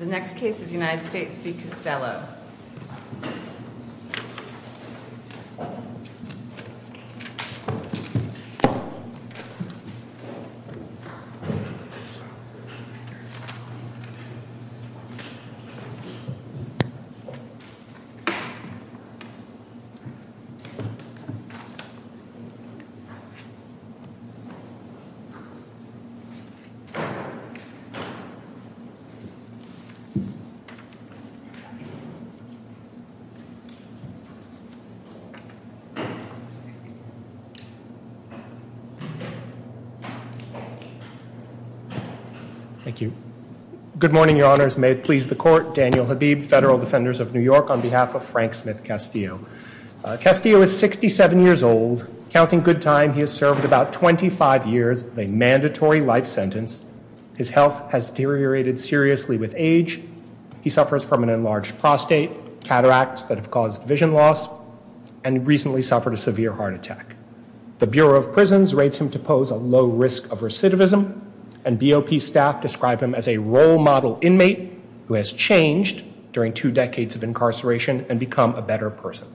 The next case is United States v. Castillo. Good morning, your honors. May it please the court, Daniel Habib, Federal Defenders of New York on behalf of Frank Smith Castillo. Castillo is 67 years old. Counting good time, he has served about 25 years of a mandatory life sentence. His health has deteriorated seriously with age. He suffers from an enlarged prostate, cataracts that have caused vision loss, and recently suffered a severe heart attack. The Bureau of Prisons rates him to pose a low risk of recidivism, and BOP staff describe him as a role model inmate who has changed during two decades of incarceration and become a better person.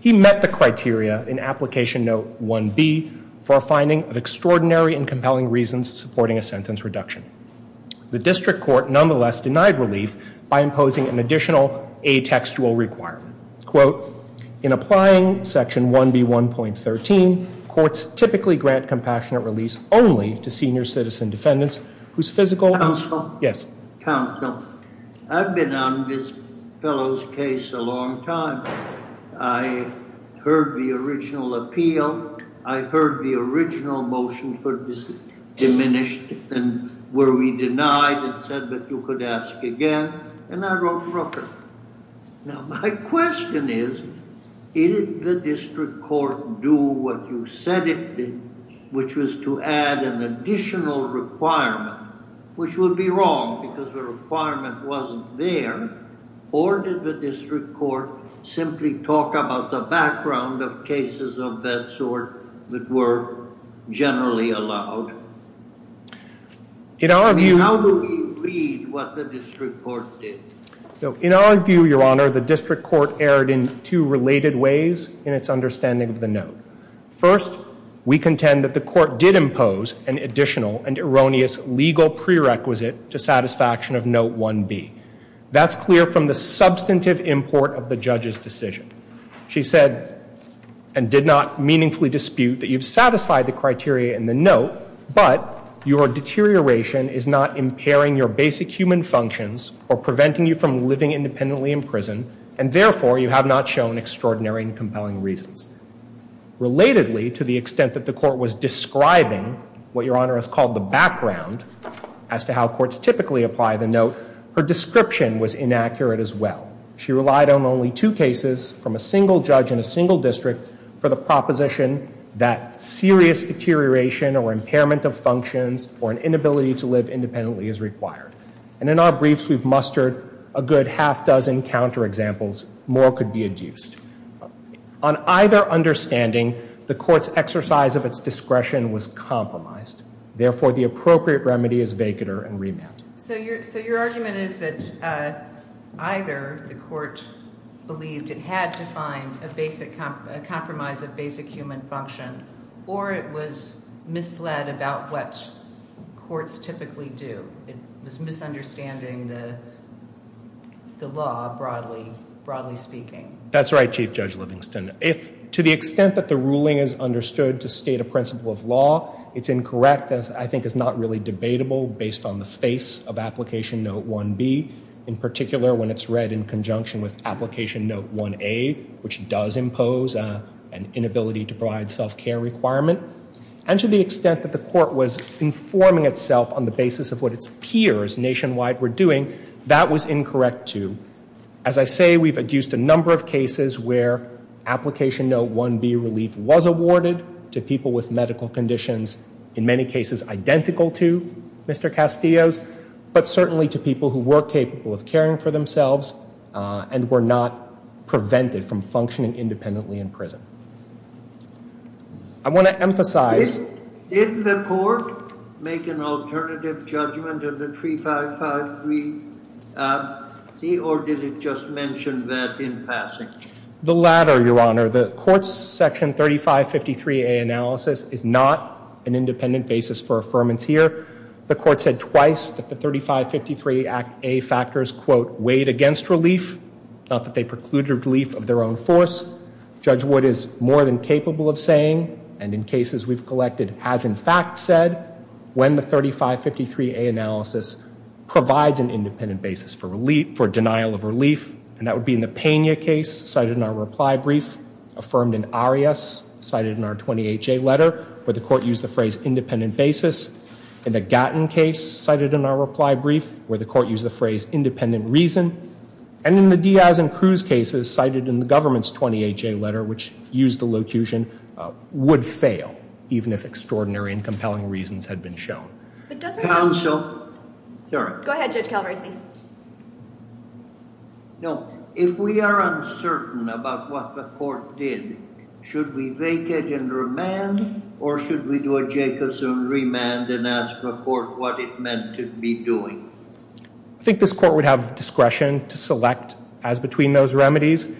He met the criteria in application note 1B for a extraordinary and compelling reasons supporting a sentence reduction. The district court nonetheless denied relief by imposing an additional atextual requirement. Quote, in applying section 1B 1.13, courts typically grant compassionate release only to senior citizen defendants whose physical- Counsel? Yes. Counsel, I've been on this fellow's case a long time. I heard the original appeal, I heard the original motion for this diminished, and were we denied and said that you could ask again, and I wrote Rooker. Now, my question is, did the district court do what you said it did, which was to add an additional requirement, which would be wrong because the requirement wasn't there, or did the district court simply talk about the background of cases of that sort that were generally allowed? In our view- How do we read what the district court did? In our view, Your Honor, the district court erred in two related ways in its understanding of the note. First, we contend that the court did impose an additional and erroneous legal prerequisite to the satisfaction of note 1B. That's clear from the substantive import of the judge's decision. She said, and did not meaningfully dispute, that you've satisfied the criteria in the note, but your deterioration is not impairing your basic human functions or preventing you from living independently in prison, and therefore you have not shown extraordinary and compelling reasons. Relatedly, to the extent that the court was describing what Your Honor has called the background, as to how courts typically apply the note, her description was inaccurate as well. She relied on only two cases from a single judge in a single district for the proposition that serious deterioration or impairment of functions or an inability to live independently is required. And in our briefs, we've mustered a good half-dozen counterexamples. More could be adduced. On either understanding, the court's exercise of its discretion was compromised. Therefore, the appropriate remedy is vacater and remand. So your argument is that either the court believed it had to find a compromise of basic human function, or it was misled about what courts typically do. It was misunderstanding the law, broadly speaking. That's right, Chief Judge Livingston. If, to the extent that the ruling is understood to state a principle of law, it's incorrect, as I think is not really debatable, based on the face of Application Note 1B. In particular, when it's read in conjunction with Application Note 1A, which does impose an inability to provide self-care requirement. And to the extent that the court was informing itself on the basis of what its peers nationwide were doing, that was incorrect, too. As I say, we've adduced a number of cases where Application Note 1B relief was awarded to people with medical conditions, in many cases identical to Mr. Castillo's, but certainly to people who were capable of caring for themselves, and were not prevented from functioning independently in prison. I want to emphasize... Did the court make an alternative judgment of the 3553C, or did it just mention that in passing? The latter, Your Honor. The court's section 3553A analysis is not an independent basis for affirmance here. The court said twice that the 3553A factors, quote, weighed against relief, not that they precluded relief of their own force. Judge Wood is more than capable of saying, and in cases we've collected has in fact said, when the 3553A analysis provides an independent basis for denial of relief, and that would be in the Pena case, cited in our reply brief, affirmed in Arias, cited in our 20HA letter, where the court used the phrase independent basis, in the Gatton case, cited in our reply brief, where the court used the phrase independent reason, and in the Diaz and Cruz cases, cited in the government's 20HA letter, which used the locution, would fail, even if extraordinary and compelling reasons had been shown. Counsel? Go ahead, Judge Calabresi. No, if we are uncertain about what the court did, should we vacate and remand, or should we do a Jacobson remand and ask the court what it meant to be doing? I think this court would have discretion to select as between those remedies.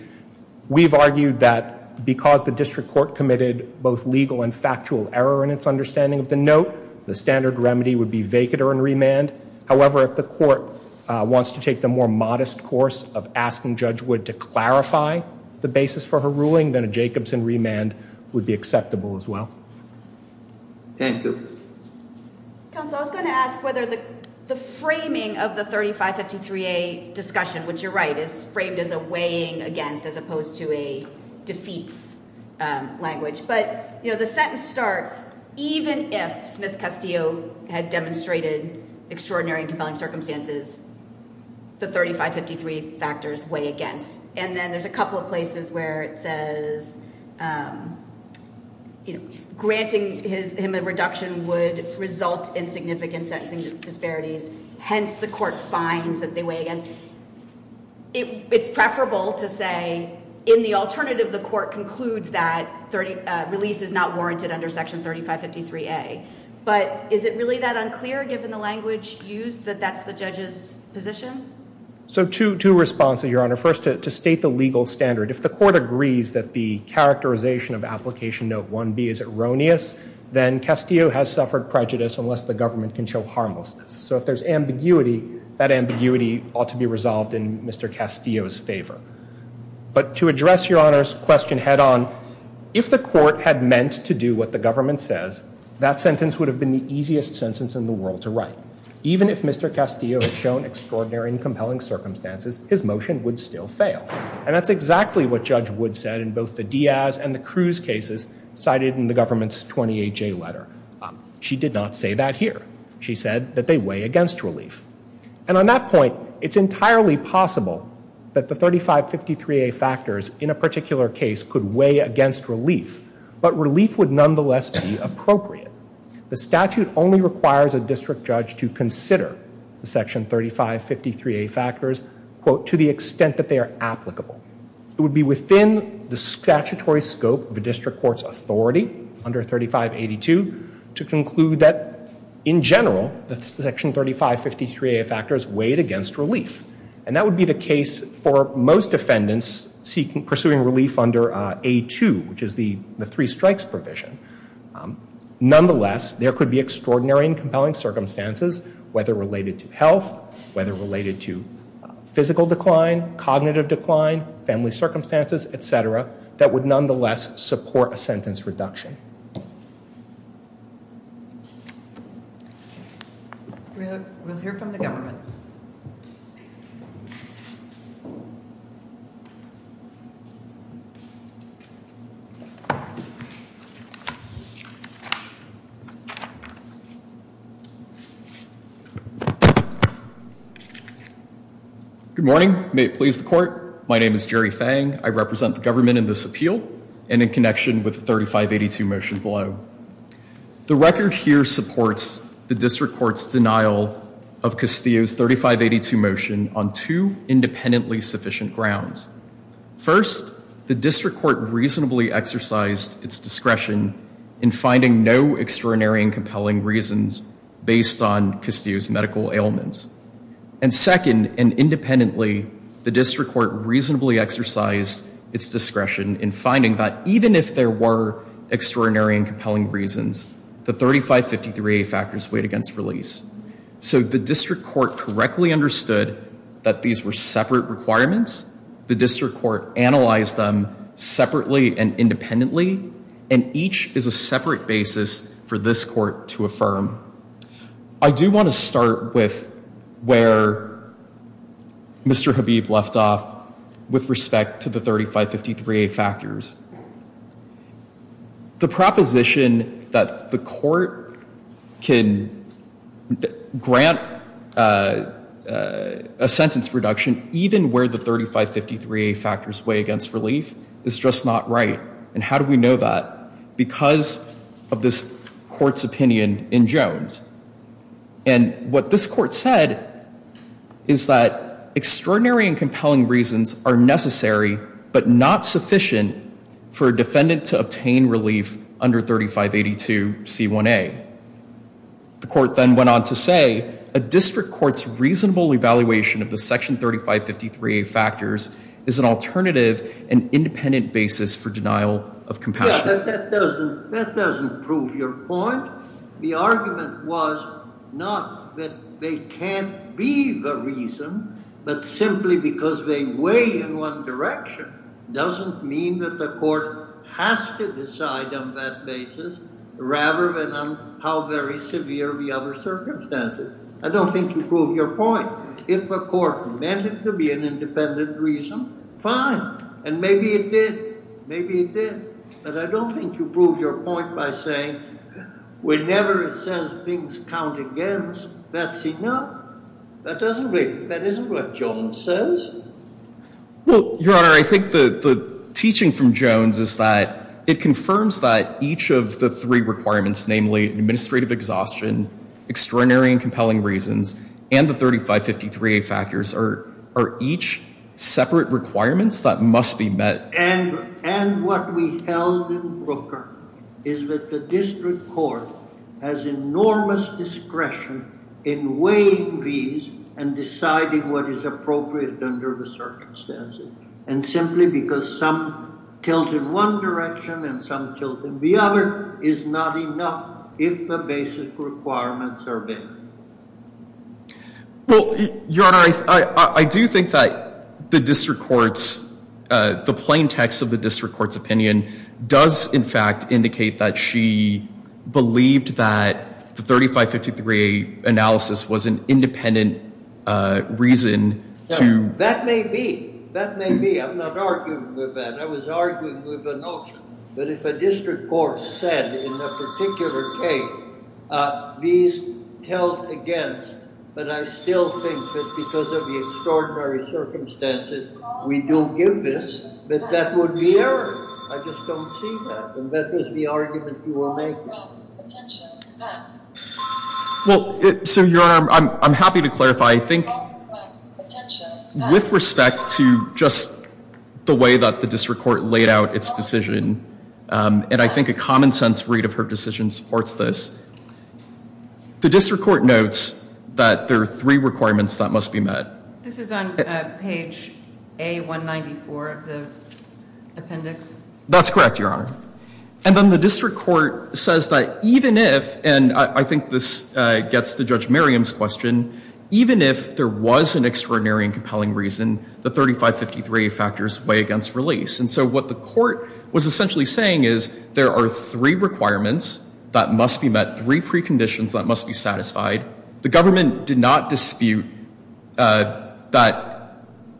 We've argued that because the district court committed both legal and factual error in its understanding of the note, the standard remedy would be vacater and remand. However, if the court wants to take the more modest course of asking Judge Wood to clarify the basis for her ruling, then a Jacobson remand would be acceptable as well. Thank you. Counsel, I was going to ask whether the framing of the 3553A discussion, which you're right, is framed as a weighing against, as opposed to a defeats language. But, you know, the sentence starts, even if Smith-Castillo had demonstrated extraordinary and compelling circumstances, the 3553 factors weigh against. And then there's a couple of places where it says, you know, granting him a reduction would result in significant sentencing disparities. Hence, the court finds that they weigh against. It's preferable to say, in the alternative, the court concludes that release is not warranted under Section 3553A. But is it really that unclear, given the language used, that that's the judge's position? So two responses, Your Honor. First, to state the legal standard. If the court agrees that the characterization of Application Note 1B is erroneous, then Castillo has suffered prejudice unless the government can show harmlessness. So if there's ambiguity, that ambiguity ought to be resolved in Mr. Castillo's favor. But to address Your Honor's question head on, if the court had meant to do what the government says, that sentence would have been the easiest sentence in the world to write. Even if Mr. Castillo had shown extraordinary and compelling circumstances, his motion would still fail. And that's exactly what Judge Wood said in both the Diaz and the Cruz cases cited in the government's 28J letter. She did not say that here. She said that they weigh against relief. And on that point, it's entirely possible that the 3553A factors in a particular case could weigh against relief. But relief would nonetheless be appropriate. The statute only requires a district judge to consider the Section 3553A factors, quote, to the extent that they are applicable. It would be within the statutory scope of a district court's authority under 3582 to conclude that in general, that the Section 3553A factors weighed against relief. And that would be the case for most defendants pursuing relief under A2, which is the three strikes provision. Nonetheless, there could be extraordinary and compelling circumstances, whether related to health, whether related to physical decline, cognitive decline, family circumstances, et cetera, that would nonetheless support a sentence reduction. We'll hear from the government. Good morning. May it please the court. My name is Jerry Fang. I represent the government in this appeal and in connection with the 3582 motion below. The record here supports the district court's denial of Castillo's 3582 motion on two independently sufficient grounds. First, the district court reasonably exercised its discretion in finding no extraordinary and compelling reasons based on Castillo's medical ailments. And second, and independently, the district court reasonably exercised its discretion in finding that even if there were extraordinary and compelling reasons, the 3553A factors weighed against relief. So the district court correctly understood that these were separate requirements. The district court analyzed them separately and independently, and each is a separate basis for this court to affirm. I do want to start with where Mr. Habib left off with respect to the 3553A factors. The proposition that the court can grant a sentence reduction even where the 3553A factors weigh against relief is just not right. And how do we know that? Because of this court's opinion in Jones. And what this court said is that extraordinary and compelling reasons are necessary but not sufficient for a defendant to obtain relief under 3582C1A. The court then went on to say a district court's reasonable evaluation of the section 3553A factors is an alternative and independent basis for denial of compassion. That doesn't prove your point. The argument was not that they can't be the reason, but simply because they weigh in one direction doesn't mean that the court has to decide on that basis rather than on how very severe the other circumstances. I don't think you proved your point. If the court meant it to be an independent reason, fine. And maybe it did. Maybe it did. But I don't think you proved your point by saying, whenever it says things count against, that's enough. That doesn't make it. That isn't what Jones says. Well, Your Honor, I think that the teaching from Jones is that it confirms that each of the three requirements, namely administrative exhaustion, extraordinary and compelling reasons, and the 3553A factors are each separate requirements that must be met. And what we held in Brooker is that the district court has enormous discretion in weighing these and deciding what is appropriate under the circumstances. And simply because some tilt in one direction and some tilt in the other is not enough if the basic requirements are not met. Well, Your Honor, I do think that the plain text of the district court's opinion does, in fact, indicate that she believed that the 3553A analysis was an independent reason to That may be. That may be. I'm not arguing with that. I was arguing with the notion that if a district court said in a particular case, these tilt against, but I still think that because of the extraordinary circumstances, we don't give this, that that would be error. I just don't see that. And that was the argument you were making. Well, so Your Honor, I'm happy to clarify. I think with respect to just the way that the district court laid out its decision, and I think a common sense read of her decision supports this, the district court notes that there are three requirements that must be met. This is on page A194 of the appendix? That's correct, Your Honor. And then the district court says that even if, and I think this gets to Judge Merriam's question, even if there was an extraordinary and compelling reason, the 3553A factors weigh against release. And so what the court was essentially saying is there are three requirements that must be met, three preconditions that must be satisfied. The government did not dispute that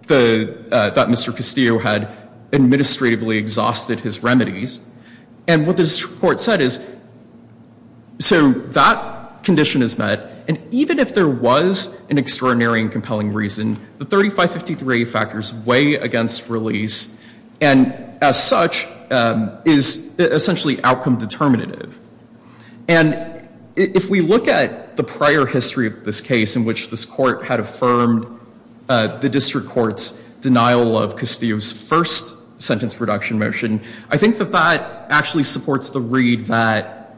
Mr. Castillo had administratively exhausted his remedies. And what the district court said is, so that condition is met, and even if there was an extraordinary and compelling reason, the 3553A factors weigh against release, and as such is essentially outcome determinative. And if we look at the prior history of this case in which this court had affirmed the district court's denial of Castillo's first sentence reduction motion, I think that that actually supports the read that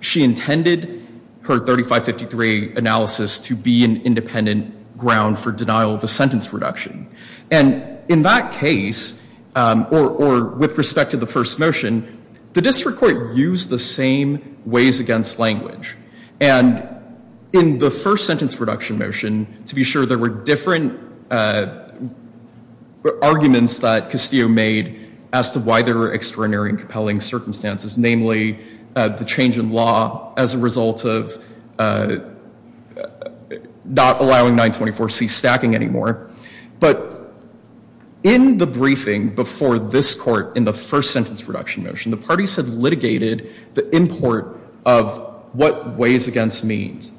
she intended her 3553A analysis to be an independent ground for denial of a sentence reduction. And in that case, or with respect to the first motion, the district court used the same ways against language. And in the first sentence reduction motion, to be sure there were different arguments that Castillo made as to why there were extraordinary and compelling circumstances, namely the change in law as a result of not allowing 924C stacking anymore. But in the briefing before this court in the first sentence reduction motion, the parties had litigated the import of what weighs against means.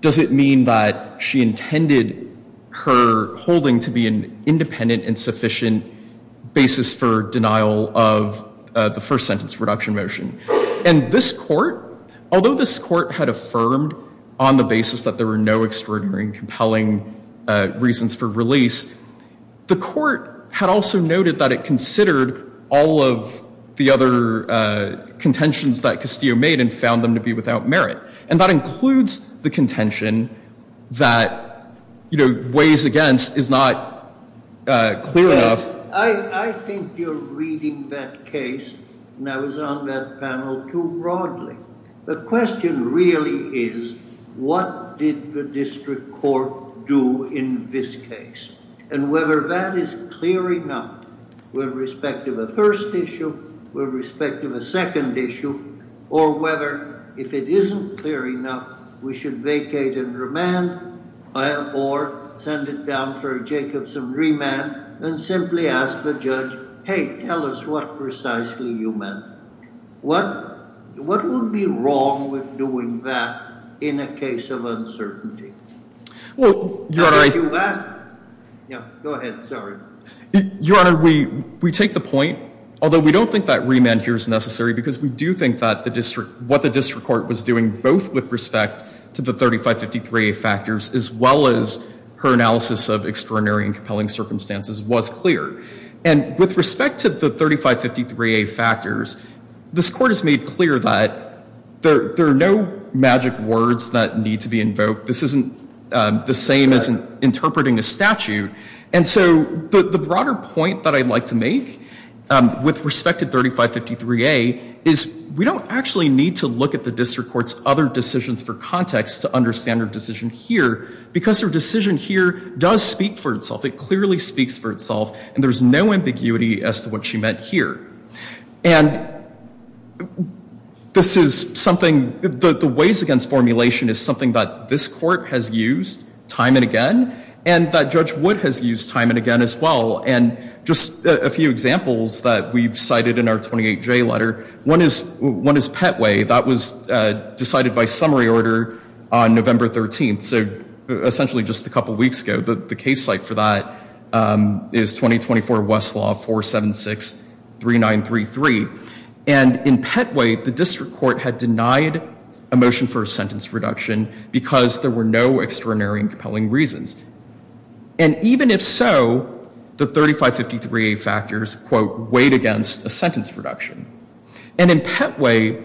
Does it mean that she intended her holding to be an independent and sufficient basis for denial of the first sentence reduction motion? And this court, although this court had affirmed on the basis that there were no extraordinary and compelling reasons for release, the court had also noted that it considered all of the other contentions that Castillo made and found them to be without merit. And that weighs against is not clear enough. I think you're reading that case and I was on that panel too broadly. The question really is what did the district court do in this case? And whether that is clear enough with respect to the first issue, with respect to the second issue, or whether if it was a remand, then simply ask the judge, hey, tell us what precisely you meant. What would be wrong with doing that in a case of uncertainty? How did you do that? Go ahead, sorry. Your honor, we take the point, although we don't think that remand here is necessary because we do think that what the district court was doing, both with respect to the 3553A factors as well as her analysis of extraordinary and compelling circumstances was clear. And with respect to the 3553A factors, this court has made clear that there are no magic words that need to be invoked. This isn't the same as interpreting a statute. And so the broader point that I'd like to make with respect to 3553A is we don't actually need to look at the district court's other decisions for context to understand her decision here, because her decision here does speak for itself. It clearly speaks for itself, and there's no ambiguity as to what she meant here. And this is something, the ways against formulation is something that this court has used time and again, and that Judge Wood has used time and again as well. And just a few examples that we've cited in our 28J letter. One is Petway. That was decided by Petway on May 13th, so essentially just a couple weeks ago. The case site for that is 2024 Westlaw 476-3933. And in Petway, the district court had denied a motion for a sentence reduction because there were no extraordinary and compelling reasons. And even if so, the 3553A factors, quote, weighed against a sentence reduction. And in Petway,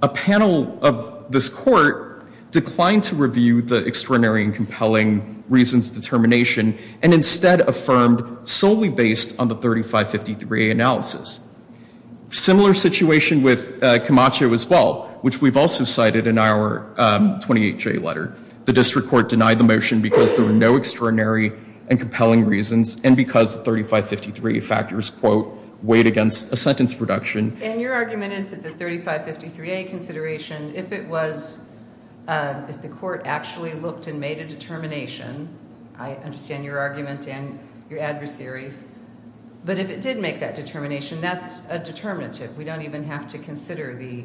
a panel of this court declined to review the 3553A factors. And the district court did not review the extraordinary and compelling reasons determination, and instead affirmed solely based on the 3553A analysis. Similar situation with Camacho as well, which we've also cited in our 28J letter. The district court denied the motion because there were no extraordinary and compelling reasons, and because the 3553A factors, quote, weighed against a sentence reduction. And your argument is that the district court actually looked and made a determination. I understand your argument and your adversaries. But if it did make that determination, that's a determinative. We don't even have to consider the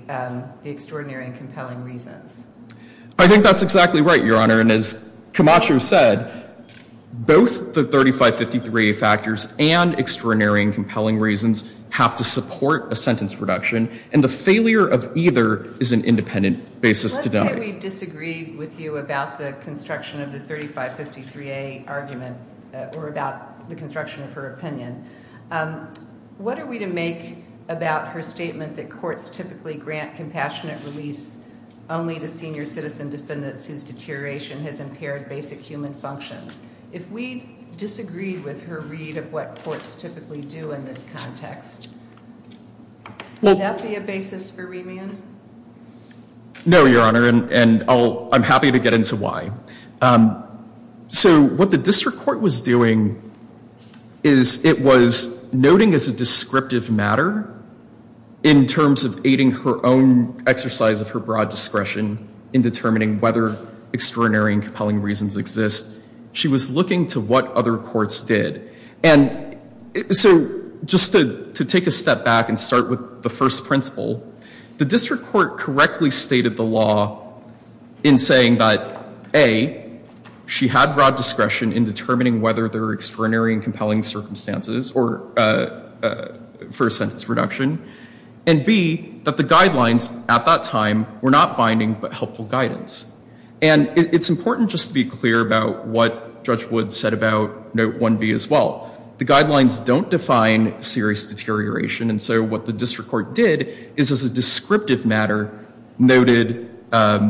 extraordinary and compelling reasons. I think that's exactly right, Your Honor. And as Camacho said, both the 3553A factors and extraordinary and compelling reasons have to support a sentence reduction. And the failure of either is an argument about the construction of the 3553A argument, or about the construction of her opinion. What are we to make about her statement that courts typically grant compassionate release only to senior citizen defendants whose deterioration has impaired basic human functions? If we disagree with her read of what courts typically do in this context, would that be a basis for remand? No, Your Honor. And I'm happy to get into why that is. So what the district court was doing is it was noting as a descriptive matter in terms of aiding her own exercise of her broad discretion in determining whether extraordinary and compelling reasons exist. She was looking to what other courts did. And so just to take a step back and start with the first principle, the district court correctly stated the law in saying that, A, she had broad discretion in determining whether there are extraordinary and compelling circumstances for a sentence reduction. And, B, that the guidelines at that time were not binding but helpful guidance. And it's important just to be clear about what Judge Woods said about Note 1B as well. The guidelines don't define serious deterioration. And so what the district court did is as a descriptive matter, noted the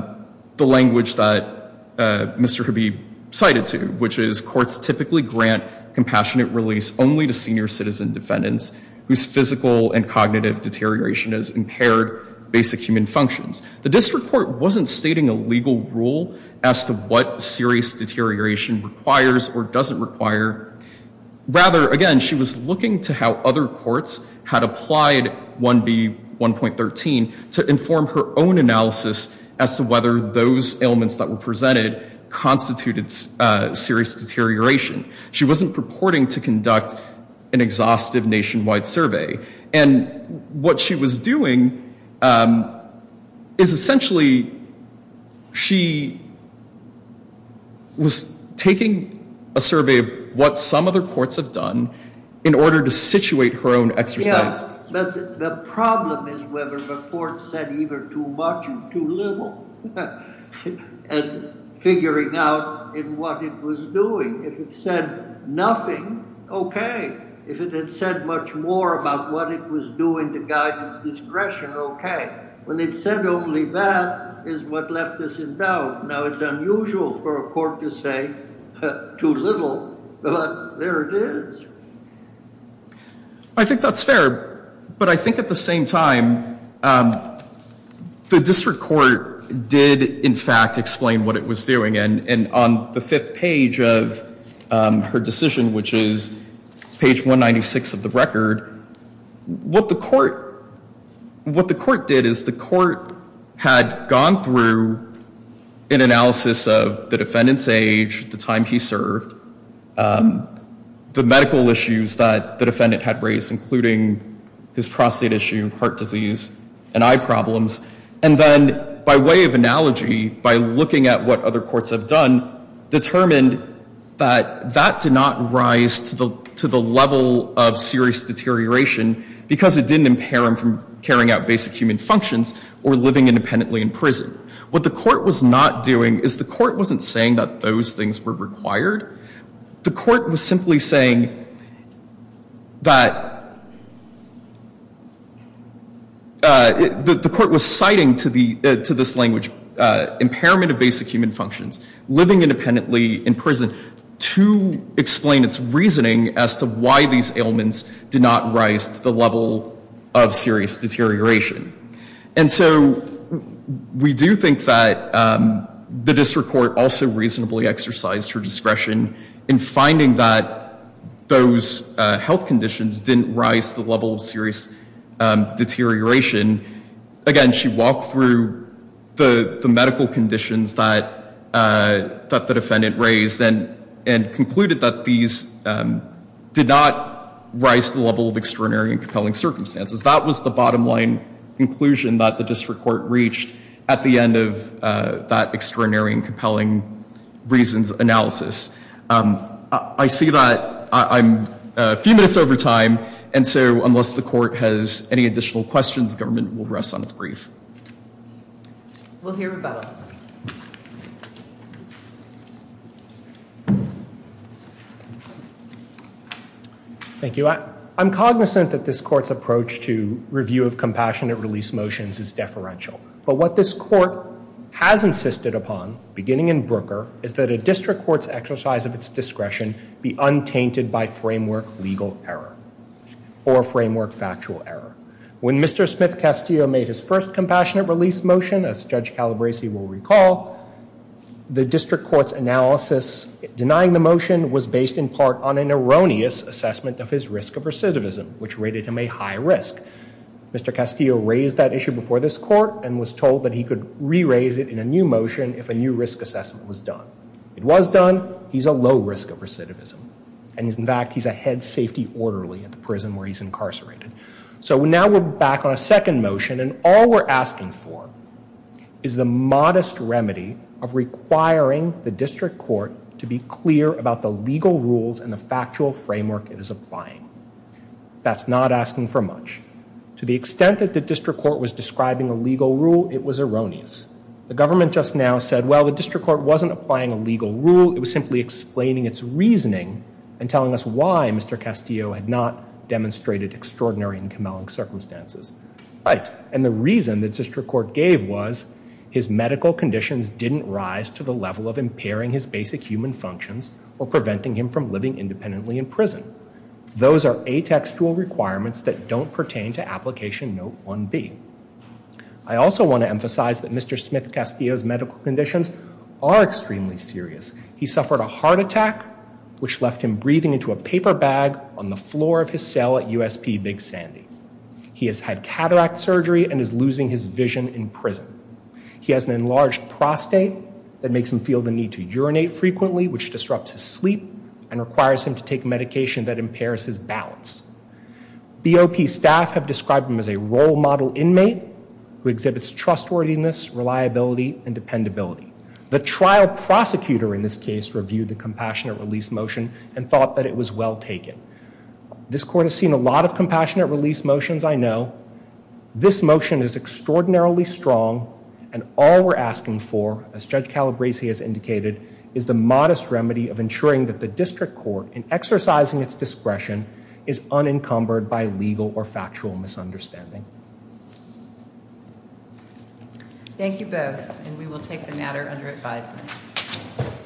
language that Mr. Hibby cited to, which is courts typically grant compassionate release only to senior citizen defendants whose physical and cognitive deterioration has impaired basic human functions. The district court wasn't stating a legal rule as to what serious deterioration requires or doesn't require. Rather, again, she was looking to how other courts had applied 1B, 1.13, to enforce the guidelines. And so the district court did not perform her own analysis as to whether those ailments that were presented constituted serious deterioration. She wasn't purporting to conduct an exhaustive nationwide survey. And what she was doing is essentially she was taking a survey of what some other courts have done in order to situate her own exercise. I think that's fair. But I think at the same time, the district court did, in fact, explain what it was doing. And on the fifth page of her decision, which is page 196 of the record, what the court did is the court had gone through an analysis of the defendant's age, the time he served, the medical issues that the defendant was experiencing, the health issues that the defendant had raised, including his prostate issue, heart disease, and eye problems. And then by way of analogy, by looking at what other courts have done, determined that that did not rise to the level of serious deterioration because it didn't impair him from carrying out basic human functions or living independently in prison. What the court was not doing is the court wasn't saying that those things were required. The court was simply saying that the court was citing to this language impairment of basic human functions, living independently in prison, to explain its reasoning as to why these ailments did not rise to the level of serious deterioration. And so we do think that the district court also reasonably exercised her discretion in finding that those health conditions didn't rise to the level of serious deterioration. Again, she walked through the medical conditions that the defendant raised and concluded that these did not rise to the level of extraordinary and compelling circumstances. That was the bottom line conclusion that the district court reached at the end of that extraordinary and compelling reasons analysis. I see that I'm a few minutes over time, and so unless the court has any additional questions, the government will rest on its brief. We'll hear rebuttal. Thank you. I'm cognizant that this court's approach to review of compassionate release motions is deferential. But what this court has insisted upon, beginning in Brooker, is that a district court's exercise of its discretion be untainted by framework legal error or framework factual error. When Mr. Smith-Castillo made his first compassionate release motion, as Judge Calabresi will recall, the district court's analysis denying the motion was based in part on an erroneous assessment of his risk of recidivism, which rated him a high risk. Mr. Castillo raised that issue before this hearing, and he could re-raise it in a new motion if a new risk assessment was done. It was done. He's a low risk of recidivism. And in fact, he's a head safety orderly at the prison where he's incarcerated. So now we're back on a second motion, and all we're asking for is the modest remedy of requiring the district court to be clear about the legal rules and the factual framework it is applying. That's not asking for much. To the extent that the district court's assessment is erroneous. The government just now said, well, the district court wasn't applying a legal rule. It was simply explaining its reasoning and telling us why Mr. Castillo had not demonstrated extraordinary and camelling circumstances. Right. And the reason the district court gave was his medical conditions didn't rise to the level of impairing his basic human functions or preventing him from living independently in prison. Those are atextual requirements that don't pertain to Application Note 1B. I also want to emphasize that the district court's assessment does not emphasize that Mr. Smith Castillo's medical conditions are extremely serious. He suffered a heart attack, which left him breathing into a paper bag on the floor of his cell at USP Big Sandy. He has had cataract surgery and is losing his vision in prison. He has an enlarged prostate that makes him feel the need to urinate frequently, which disrupts his sleep and requires him to take medication that impairs his balance. BOP staff have been very supportive of his readiness, reliability and dependability. The trial prosecutor in this case reviewed the compassionate release motion and thought that it was well taken. This court has seen a lot of compassionate release motions, I know. This motion is extraordinarily strong and all we're asking for, as Judge Calabresi has indicated, is the modest remedy of ensuring that the district court, in exercising its discretion, is unencumbered by legal or criminal charges. Thank you both and we will take the matter under advisement.